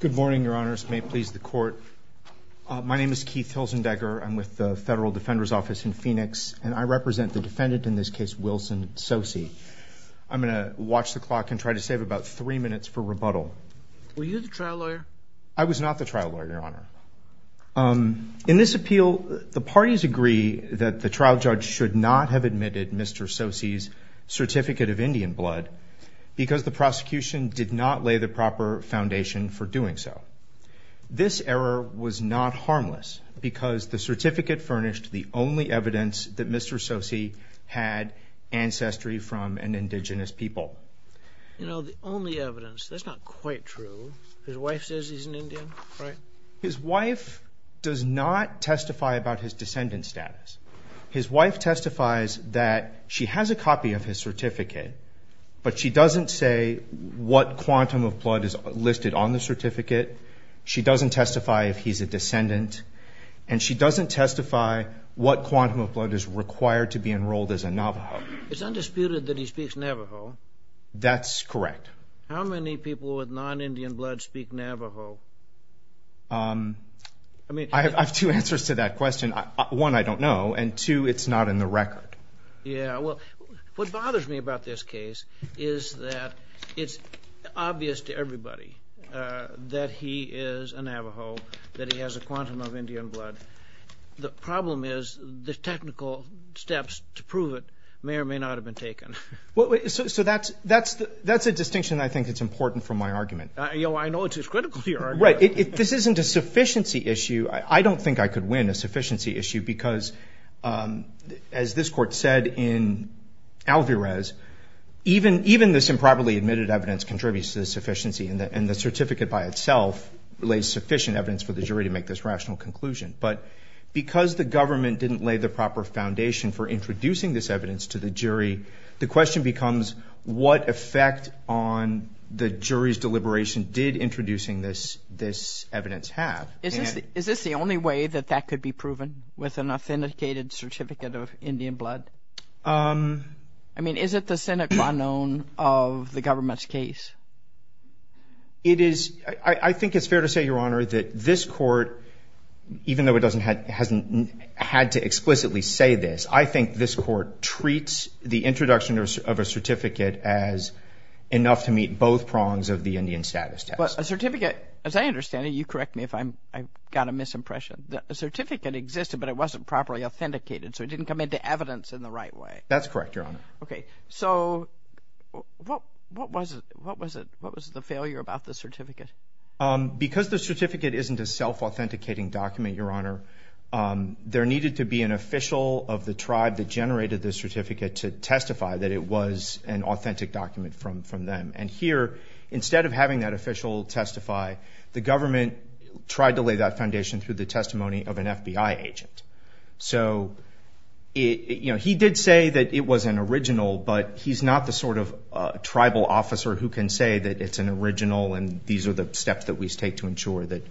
Good morning, your honors. May it please the court. My name is Keith Hilzendegger. I'm with the Federal Defender's Office in Phoenix and I represent the defendant in this case, Wilson Tsosie. I'm gonna watch the clock and try to save about three minutes for rebuttal. Were you the trial lawyer? I was not the trial lawyer, your honor. In this appeal, the parties agree that the trial judge should not have admitted Mr. Tsosie's certificate of Indian blood because the This error was not harmless because the certificate furnished the only evidence that Mr. Tsosie had ancestry from an indigenous people. You know, the only evidence, that's not quite true. His wife says he's an Indian, right? His wife does not testify about his descendant status. His wife testifies that she has a copy of his certificate, but she doesn't say what quantum of blood is listed on the certificate. She doesn't testify if he's a descendant, and she doesn't testify what quantum of blood is required to be enrolled as a Navajo. It's undisputed that he speaks Navajo. That's correct. How many people with non-Indian blood speak Navajo? I mean, I have two answers to that question. One, I don't know, and two, it's not in the record. Yeah, well, what bothers me about this case is that it's obvious to everybody that he is a Navajo, that he has a quantum of Indian blood. The problem is the technical steps to prove it may or may not have been taken. So that's a distinction I think that's important from my argument. I know it's a critical argument. Right, this isn't a sufficiency issue. I don't think I could win a sufficiency issue because, as this court said in Alvarez, even this improperly admitted evidence contributes to the sufficiency, and the certificate by itself lays sufficient evidence for the jury to make this rational conclusion. But because the government didn't lay the proper foundation for introducing this evidence to the jury, the question becomes what effect on the jury's deliberation did introducing this evidence have? Is this the only way that that could be proven with an authenticated certificate of Indian blood? I mean, is it the Senate pronoun of the government's case? I think it's fair to say, Your Honor, that this court, even though it hasn't had to explicitly say this, I think this court treats the introduction of a certificate as enough to meet both You correct me if I got a misimpression. The certificate existed, but it wasn't properly authenticated, so it didn't come into evidence in the right way. That's correct, Your Honor. Okay, so what was the failure about the certificate? Because the certificate isn't a self-authenticating document, Your Honor, there needed to be an official of the tribe that generated the certificate to testify that it was an authentic document from them. And here, instead of having that official testify, the government tried to lay that foundation through the testimony of an FBI agent. So, you know, he did say that it was an original, but he's not the sort of tribal officer who can say that it's an original and these are the steps that we take to ensure that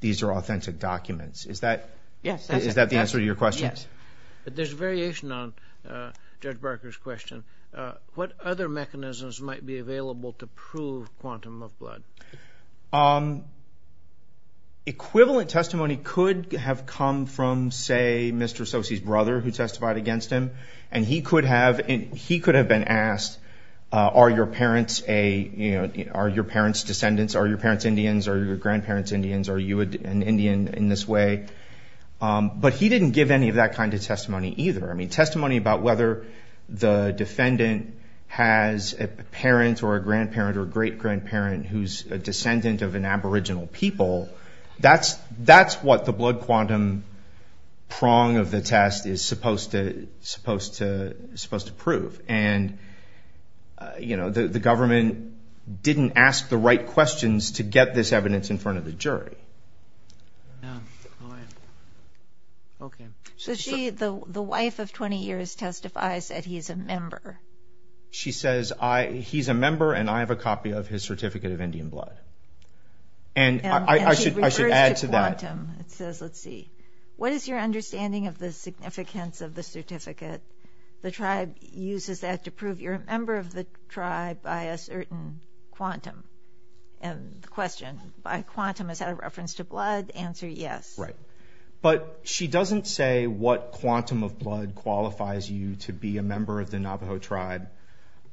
these are authentic documents. Is that the answer to your question? Yes, but there's a variation on Judge Barker's question. What other mechanisms might be available to prove quantum of blood? Equivalent testimony could have come from, say, Mr. Sosey's brother who testified against him, and he could have been asked, are your parents descendants? Are your parents Indians? Are your grandparents Indians? Are you an Indian in this way? But he didn't give any of that kind of testimony either. I mean, testimony about whether the defendant has a parent or a grandparent or great-grandparent who's a descendant of an aboriginal people, that's what the blood quantum prong of the test is supposed to prove. And, you know, the government didn't ask the right questions to get this evidence in front of the jury. So she, the wife of 20 years, testifies that he's a member. She says, he's a member and I have a copy of his certificate of Indian blood. And I should add to that. It says, let's see, what is your understanding of the significance of the certificate? The tribe uses that to prove you're a member of the tribe by a certain quantum. And the question by quantum, is that a reference to blood? Answer, yes. Right. But she doesn't say what quantum of blood qualifies you to be a member of the Navajo tribe.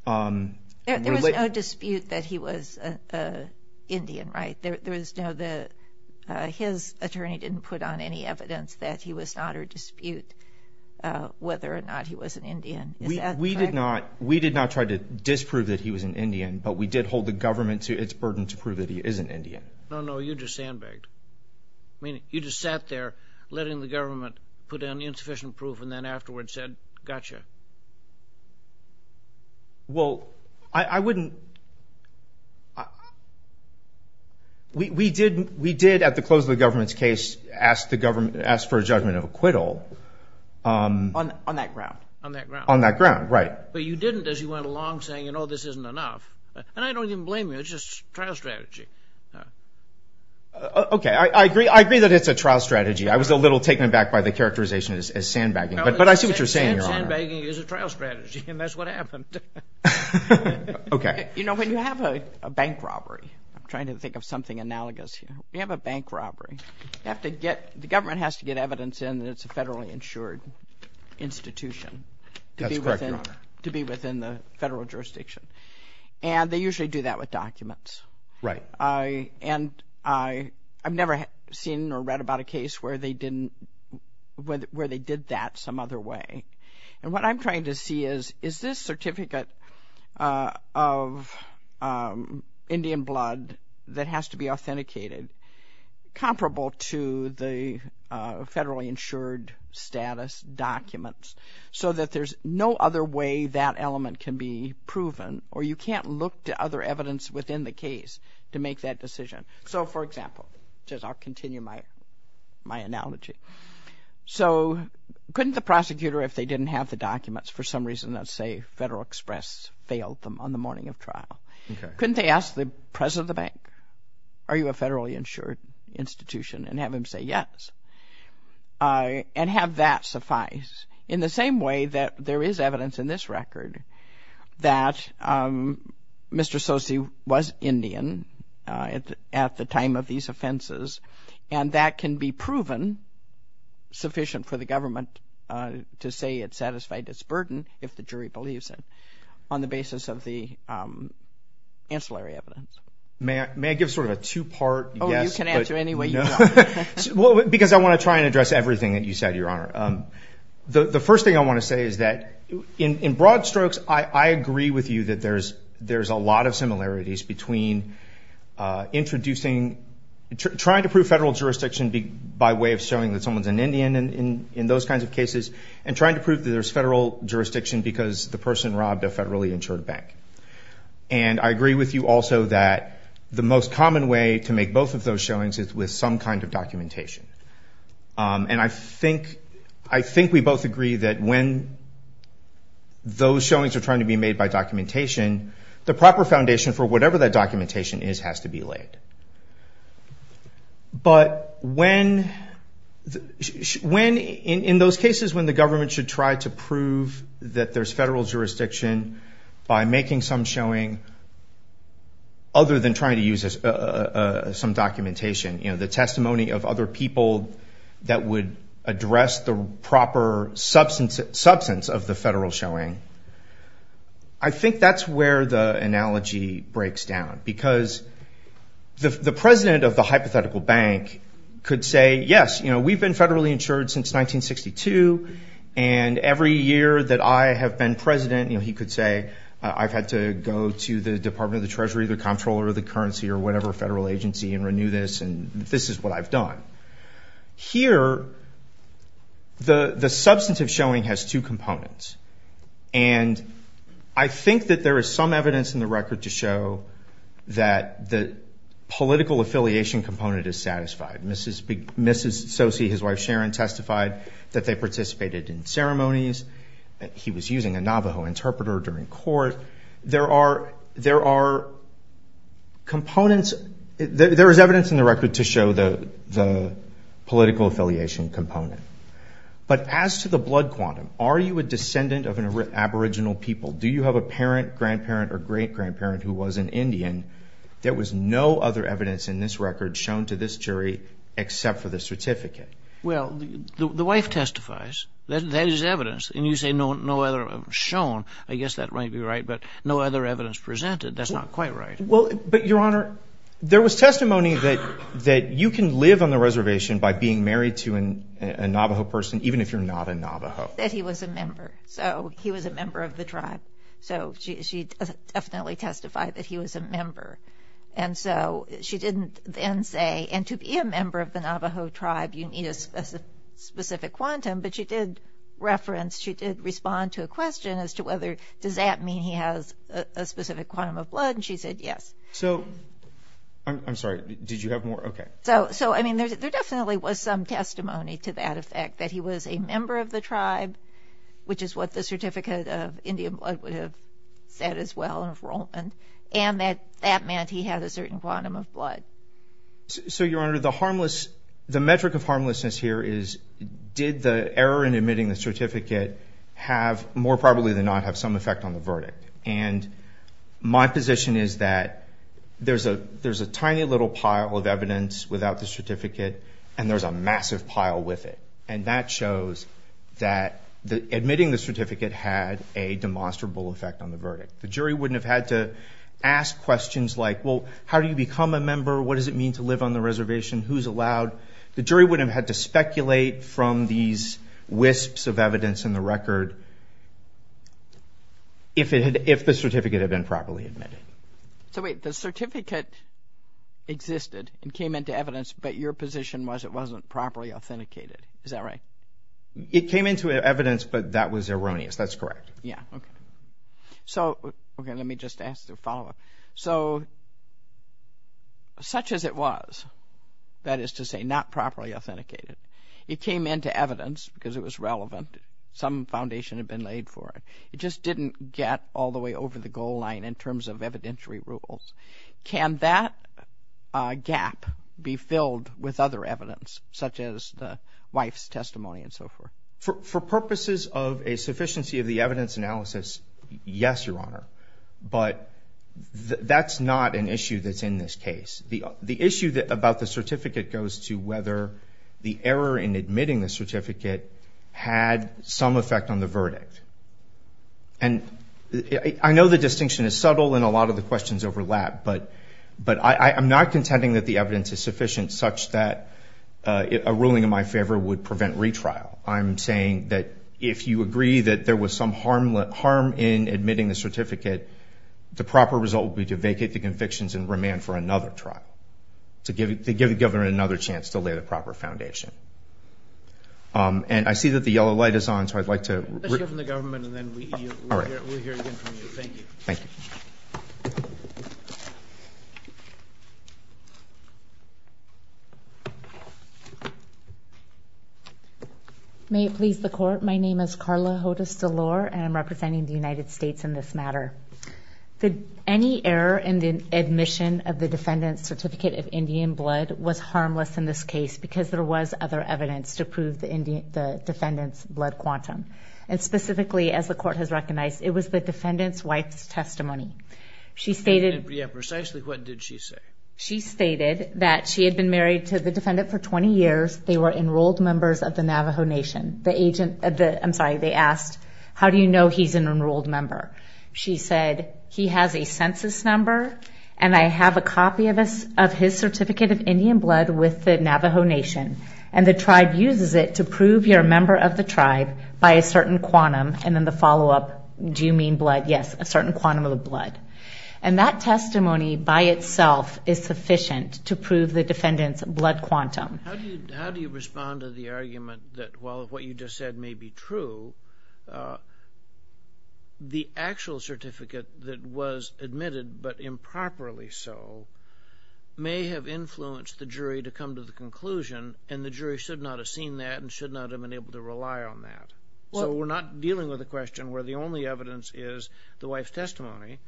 There was no dispute that he was an Indian, right? There was no, the, his attorney didn't put on any evidence that he was not or dispute whether or not he was an Indian. We did not, we did not try to disprove that he was an Indian, but we did hold the government to its burden to prove that he is an Indian. No, no, you just sandbagged. I mean, you just sat there letting the government put down the insufficient proof and then afterwards said, gotcha. Well, I wouldn't. We did, at the close of the government's case, ask the government, ask for a judgment of on that ground, on that ground, on that ground. Right. But you didn't, as you went along saying, you know, this isn't enough. And I don't even blame you. It's just trial strategy. Okay. I agree. I agree that it's a trial strategy. I was a little taken aback by the characterization as sandbagging, but I see what you're saying. Sandbagging is a trial strategy and that's what happened. Okay. When you have a bank robbery, I'm trying to think of something analogous. You have a bank robbery. You have to get, the government has to get evidence in that it's a federally insured institution to be within the federal jurisdiction. And they usually do that with documents. Right. And I've never seen or read about a case where they didn't, where they did that some other way. And what I'm trying to see is, is this certificate of Indian blood that has to be authenticated comparable to the federally insured status documents so that there's no other way that element can be proven or you can't look to other evidence within the case to make that decision. So, for example, just I'll continue my, my analogy. So, couldn't the prosecutor, if they didn't have the documents, for some reason, let's say Federal Express failed them on the morning of trial. Okay. Couldn't they ask the president of the bank, are you a federally insured institution? And have him say yes. And have that suffice. In the same way that there is evidence in this record that Mr. Sosi was Indian at the time of these offenses. And that can be proven sufficient for the government to say it satisfied its burden if the evidence. May I, may I give sort of a two-part? Oh, you can answer any way you want. Well, because I want to try and address everything that you said, Your Honor. The, the first thing I want to say is that in, in broad strokes, I, I agree with you that there's, there's a lot of similarities between introducing, trying to prove federal jurisdiction by way of showing that someone's an Indian in, in those kinds of cases. And trying to prove that there's federal jurisdiction because the person robbed a federally insured bank. And I agree with you also that the most common way to make both of those showings is with some kind of documentation. And I think, I think we both agree that when those showings are trying to be made by documentation, the proper foundation for whatever that documentation is has to be laid. But when, when in, in those cases when the there's federal jurisdiction by making some showing other than trying to use some documentation, you know, the testimony of other people that would address the proper substance, substance of the federal showing. I think that's where the analogy breaks down because the, the president of the hypothetical bank could say, yes, you know, we've been federally insured since 1962. And every year that I have been president, you know, he could say, I've had to go to the Department of the Treasury, the Comptroller of the Currency, or whatever federal agency, and renew this. And this is what I've done. Here, the, the substantive showing has two components. And I think that there is some evidence in the record to show that the political affiliation component is satisfied. Mrs., Mrs. Soce, his wife Sharon, testified that they participated in he was using a Navajo interpreter during court. There are, there are components, there is evidence in the record to show the, the political affiliation component. But as to the blood quantum, are you a descendant of an aboriginal people? Do you have a parent, grandparent, or great grandparent who was an Indian? There was no other evidence in this record shown to this jury, except for the certificate. Well, the, the wife testifies. That, that is evidence. And you say no, no other shown. I guess that might be right, but no other evidence presented. That's not quite right. Well, but Your Honor, there was testimony that, that you can live on the reservation by being married to an, a Navajo person, even if you're not a Navajo. That he was a member. So he was a member of the tribe. So she, she definitely testified that he was a member. And so she didn't then say, and to be a member of the Navajo tribe, you need a specific quantum. But she did reference, she did respond to a question as to whether, does that mean he has a specific quantum of blood? And she said, yes. So, I'm sorry, did you have more? Okay. So, so I mean, there's, there definitely was some testimony to that effect, that he was a member of the tribe, which is what the certificate of Indian blood would have said as well, enrollment. And that, that meant he had a certain quantum of blood. So, Your Honor, the harmless, the metric of harmlessness here is, did the error in admitting the certificate have, more probably than not, have some effect on the verdict? And my position is that there's a, there's a tiny little pile of evidence without the certificate, and there's a massive pile with it. And that shows that the, admitting the certificate had a demonstrable effect on the verdict. The jury wouldn't have had to ask questions like, well, how do you become a member? What does it mean to live on the reservation? Who's allowed? The jury wouldn't have had to speculate from these wisps of evidence in the record if it had, if the certificate had been properly admitted. So wait, the certificate existed and came into evidence, but your position was it wasn't properly authenticated. Is that right? It came into evidence, but that was erroneous. That's correct. Yeah. Okay. So, okay, let me just ask the follow up. So, such as it was, that is to say, not properly authenticated, it came into evidence because it was relevant. Some foundation had been laid for it. It just didn't get all the way over the goal line in terms of evidentiary rules. Can that gap be filled with other evidence, such as the wife's testimony and so forth? For purposes of a sufficiency of the evidence analysis, yes, Your Honor. But that's not an issue that's in this case. The issue about the certificate goes to whether the error in admitting the certificate had some effect on the verdict. And I know the distinction is subtle and a lot of the questions overlap, but I'm not contending that the evidence is sufficient such that a ruling in my favor would prevent retrial. I'm saying that if you agree that there was some harm in admitting the certificate, the proper result would be to vacate the convictions and remand for another trial, to give the governor another chance to lay the proper foundation. And I see that the yellow light is on, so I'd like to... Let's hear from the government and then we'll hear again from you. Thank you. Thank you. May it please the court. My name is Carla Hodes-Delore and I'm representing the United States in this matter. Any error in the admission of the defendant's certificate of Indian blood was harmless in this case because there was other evidence to prove the defendant's blood quantum. And specifically, as the court has recognized, it was the defendant's wife's blood. She stated... Yeah, precisely what did she say? She stated that she had been married to the defendant for 20 years. They were enrolled members of the Navajo Nation. The agent... I'm sorry, they asked, how do you know he's an enrolled member? She said, he has a census number and I have a copy of his certificate of Indian blood with the Navajo Nation. And the tribe uses it to prove you're a member of the tribe by a certain quantum. And then the follow up, do you mean blood? Yes, a certain quantum of the blood. And that testimony by itself is sufficient to prove the defendant's blood quantum. How do you respond to the argument that while what you just said may be true, the actual certificate that was admitted, but improperly so, may have influenced the jury to come to the conclusion and the jury should not have seen that and should not have been able to prove it. The only evidence is the wife's testimony.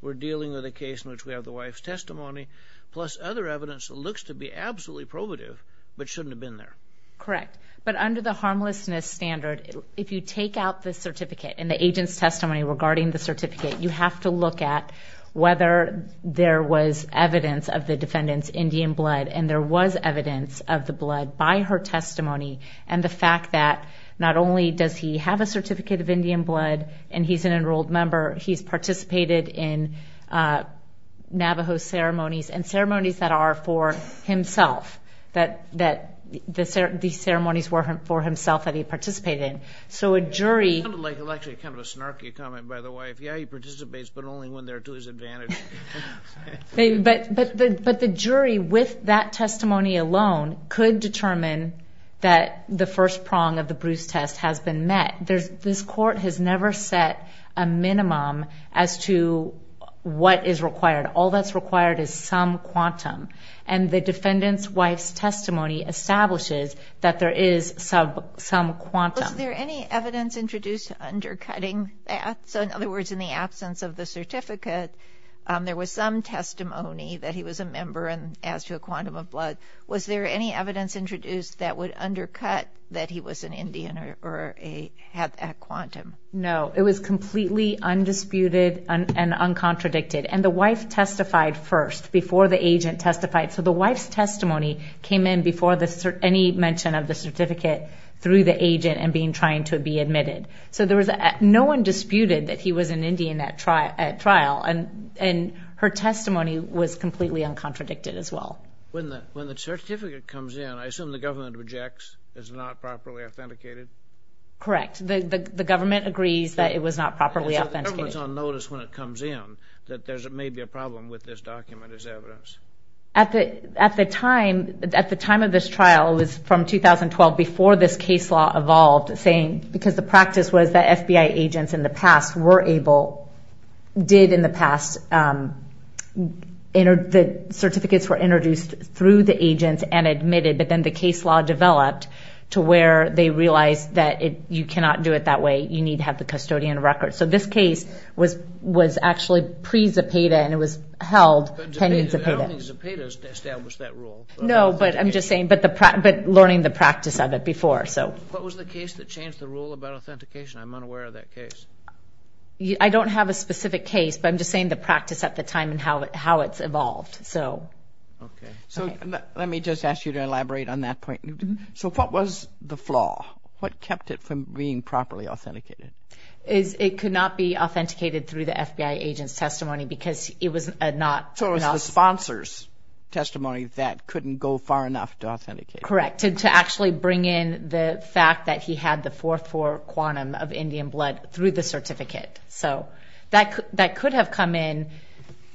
We're dealing with a case in which we have the wife's testimony, plus other evidence that looks to be absolutely probative, but shouldn't have been there. Correct. But under the harmlessness standard, if you take out the certificate and the agent's testimony regarding the certificate, you have to look at whether there was evidence of the defendant's Indian blood and there was evidence of the blood by her testimony and the fact that not only does he have a certificate of Indian blood and he's an enrolled member, he's participated in Navajo ceremonies and ceremonies that are for himself, that the ceremonies were for himself that he participated in. So a jury... It sounded like actually kind of a snarky comment by the wife. Yeah, he participates, but only when they're to his advantage. But the jury with that testimony alone could determine that the first prong of the Bruce test has been met. This court has never set a minimum as to what is required. All that's required is some quantum. And the defendant's wife's testimony establishes that there is some quantum. Was there any evidence introduced undercutting that? So in other words, in the absence of the certificate, there was some testimony that he was a member as to a quantum of blood. Was there any evidence introduced that would undercut that he was an Indian or had that quantum? No, it was completely undisputed and uncontradicted. And the wife testified first before the agent testified. So the wife's testimony came in before any mention of the certificate through the agent and being trying to be admitted. So there was... No one disputed that he was an Indian at trial and her testimony was completely uncontradicted as well. When the evidence objects, is it not properly authenticated? Correct. The government agrees that it was not properly authenticated. So the government's on notice when it comes in that there may be a problem with this document as evidence? At the time of this trial, it was from 2012 before this case law evolved, saying... Because the practice was that FBI agents in the past were able... Did in the past... The certificates were introduced through the agents and admitted, but then the case law developed to where they realized that you cannot do it that way. You need to have the custodian record. So this case was actually pre Zepeda and it was held pending Zepeda. I don't think Zepeda established that rule. No, but I'm just saying... But learning the practice of it before, so... What was the case that changed the rule about authentication? I'm unaware of that case. I don't have a specific case, but I'm just saying the practice at the time and how it's evolved, so... Okay. So let me just ask you to elaborate on that point. So what was the flaw? What kept it from being properly authenticated? It could not be authenticated through the FBI agent's testimony because it was not... So it was the sponsor's testimony that couldn't go far enough to authenticate? Correct. To actually bring in the fact that he had the 4-4 quantum of Indian blood through the certificate. So that could have come in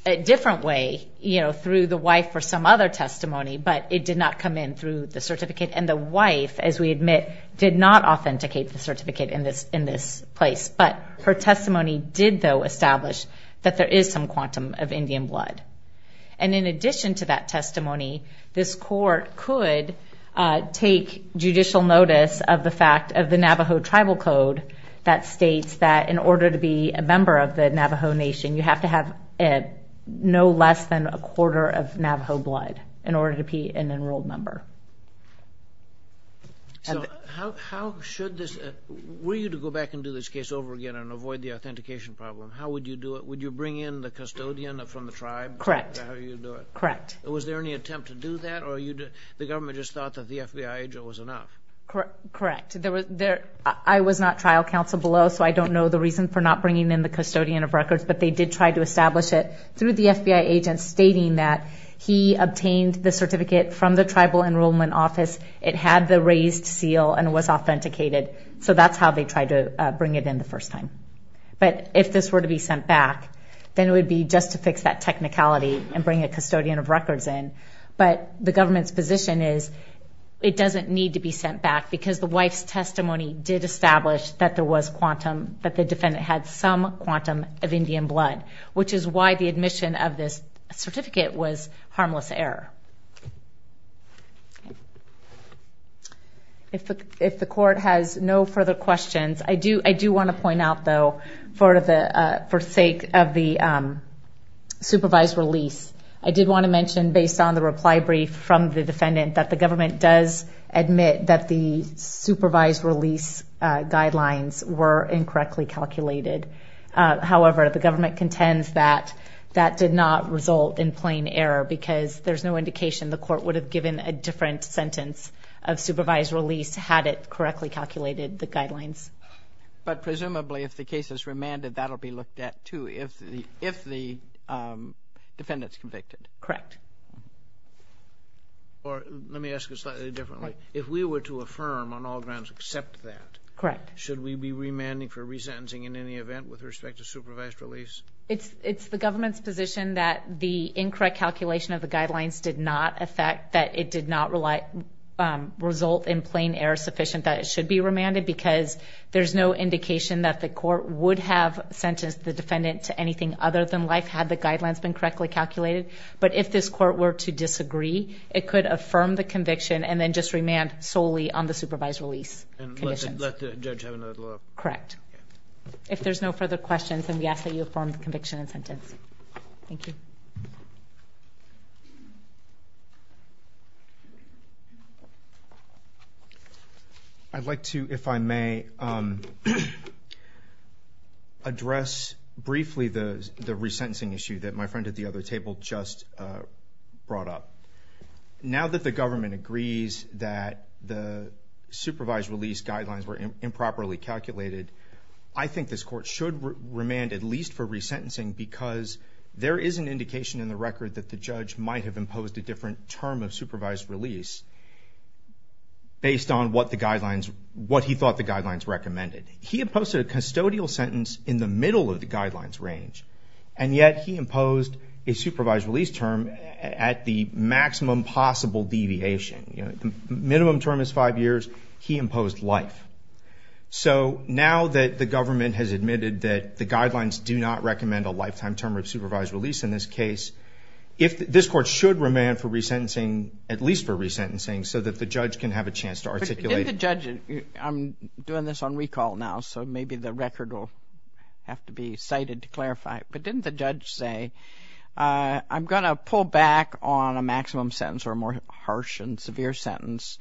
a different way through the wife or some other testimony, but it did not come in through the certificate. And the wife, as we admit, did not authenticate the certificate in this place. But her testimony did though establish that there is some quantum of Indian blood. And in addition to that testimony, this court could take judicial notice of the fact of the Navajo Tribal Code that states that in order to be a member of the Navajo Nation, you have to have no less than a quarter of Navajo blood in order to be an enrolled member. So how should this... Were you to go back and do this case over again and avoid the authentication problem? How would you do it? Would you bring in the custodian from the tribe? Correct. Is that how you'd do it? Correct. Was there any attempt to do that or the government just thought that the FBI agent was enough? Correct. I was not trial counsel below, so I don't know the reason for not bringing in the custodian of records, but they did try to establish it through the FBI agent stating that he obtained the certificate from the tribal enrollment office. It had the raised seal and was authenticated. So that's how they tried to bring it in the first time. But if this were to be sent back, then it would be just to fix that technicality and bring a custodian of records in. But the government's position is it doesn't need to be sent back because the wife's testimony did establish that there was quantum, that the defendant had some quantum of Indian blood, which is why the admission of this certificate was harmless error. If the court has no further questions, I do wanna point out though, for the sake of the supervised release, I did wanna mention based on the reply brief from the defendant that the government does admit that the supervised release guidelines were incorrectly calculated. However, the government contends that that did not result in plain error because there's no indication the court would have given a different sentence of supervised release had it correctly calculated the guidelines. But presumably, if the case is remanded, that'll be looked at too, if the defendant's convicted. Correct. Or let me ask it slightly differently. If we were to affirm on all grounds except that... Correct. Should we be remanding for resentencing in any event with respect to supervised release? It's the government's position that the incorrect calculation of the guidelines did not affect, that it did not result in plain error sufficient that it should be remanded because there's no indication that the court would have sentenced the defendant to anything other than life had the guidelines been correctly calculated. But if this court were to disagree, it could affirm the conviction and then just remand solely on the supervised release conditions. And let the judge have another look. Correct. If there's no further questions, then we ask that you affirm the conviction and sentence. Thank you. I'd like to, if I may, address briefly the resentencing issue that my friend at the other table just brought up. Now that the government agrees that the supervised release guidelines were improperly calculated, I think this is an indication in the record that the judge might have imposed a different term of supervised release based on what the guidelines, what he thought the guidelines recommended. He imposed a custodial sentence in the middle of the guidelines range, and yet he imposed a supervised release term at the maximum possible deviation. Minimum term is five years, he imposed life. So now that the government has admitted that the guidelines do not recommend a lifetime term of supervised release in this case, if this court should remand for resentencing, at least for resentencing, so that the judge can have a chance to articulate... Didn't the judge... I'm doing this on recall now, so maybe the record will have to be cited to clarify. But didn't the judge say, I'm gonna pull back on a maximum sentence or a more harsh and severe sentence,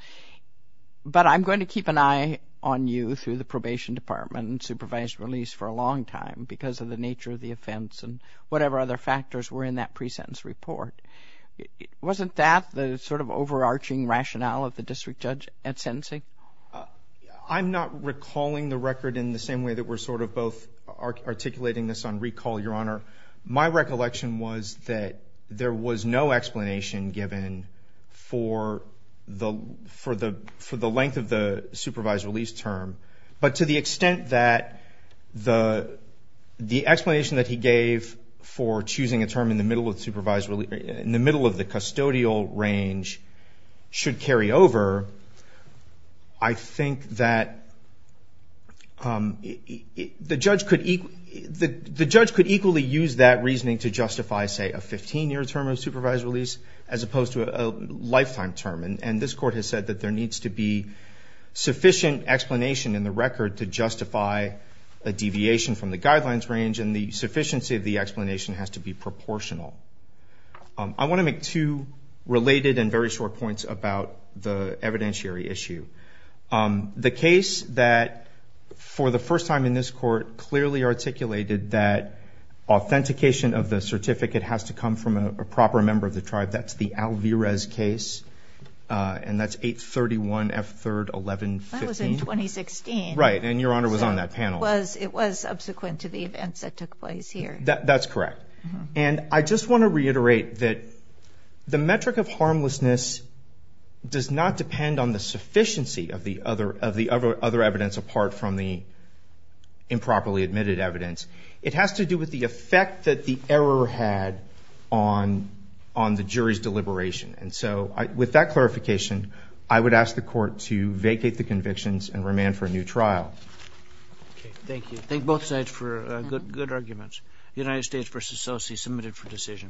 but I'm going to keep an eye on you through the probation department and supervised release for a long time because of the nature of the offense and whatever other factors were in that presentence report. Wasn't that the overarching rationale of the district judge at sentencing? I'm not recalling the record in the same way that we're both articulating this on recall, Your Honor. My recollection was that there was no explanation given for the length of the supervised release term, but to the extent that the explanation that he gave for choosing a term in the middle of supervised release... In the middle of the custodial range should carry over, I think that the judge could equally use that reasoning to justify, say, a 15 year term of supervised release as opposed to a lifetime term. And this court has said that there needs to be sufficient explanation in the record to justify a deviation from the guidelines range, and the sufficiency of the explanation has to be proportional. I wanna make two related and very short points about the evidentiary issue. The case that, for the first time in this court, clearly articulated that authentication of the certificate has to come from a proper member of the tribe, that's the Alvarez case, and that's 831 F3rd 1115. That was in 2016. Right, and Your Honor was on that panel. It was subsequent to the events that took place here. That's correct. And I just wanna reiterate that the metric of harmlessness does not depend on the sufficiency of the other evidence apart from the improperly admitted evidence. It has to do with the effect that the error had on the jury's deliberation. And so, with that clarification, I would ask the court to vacate the convictions and remand for a new trial. Okay, thank you. Thank both sides for good arguments. United States versus Chelsea, submitted for decision.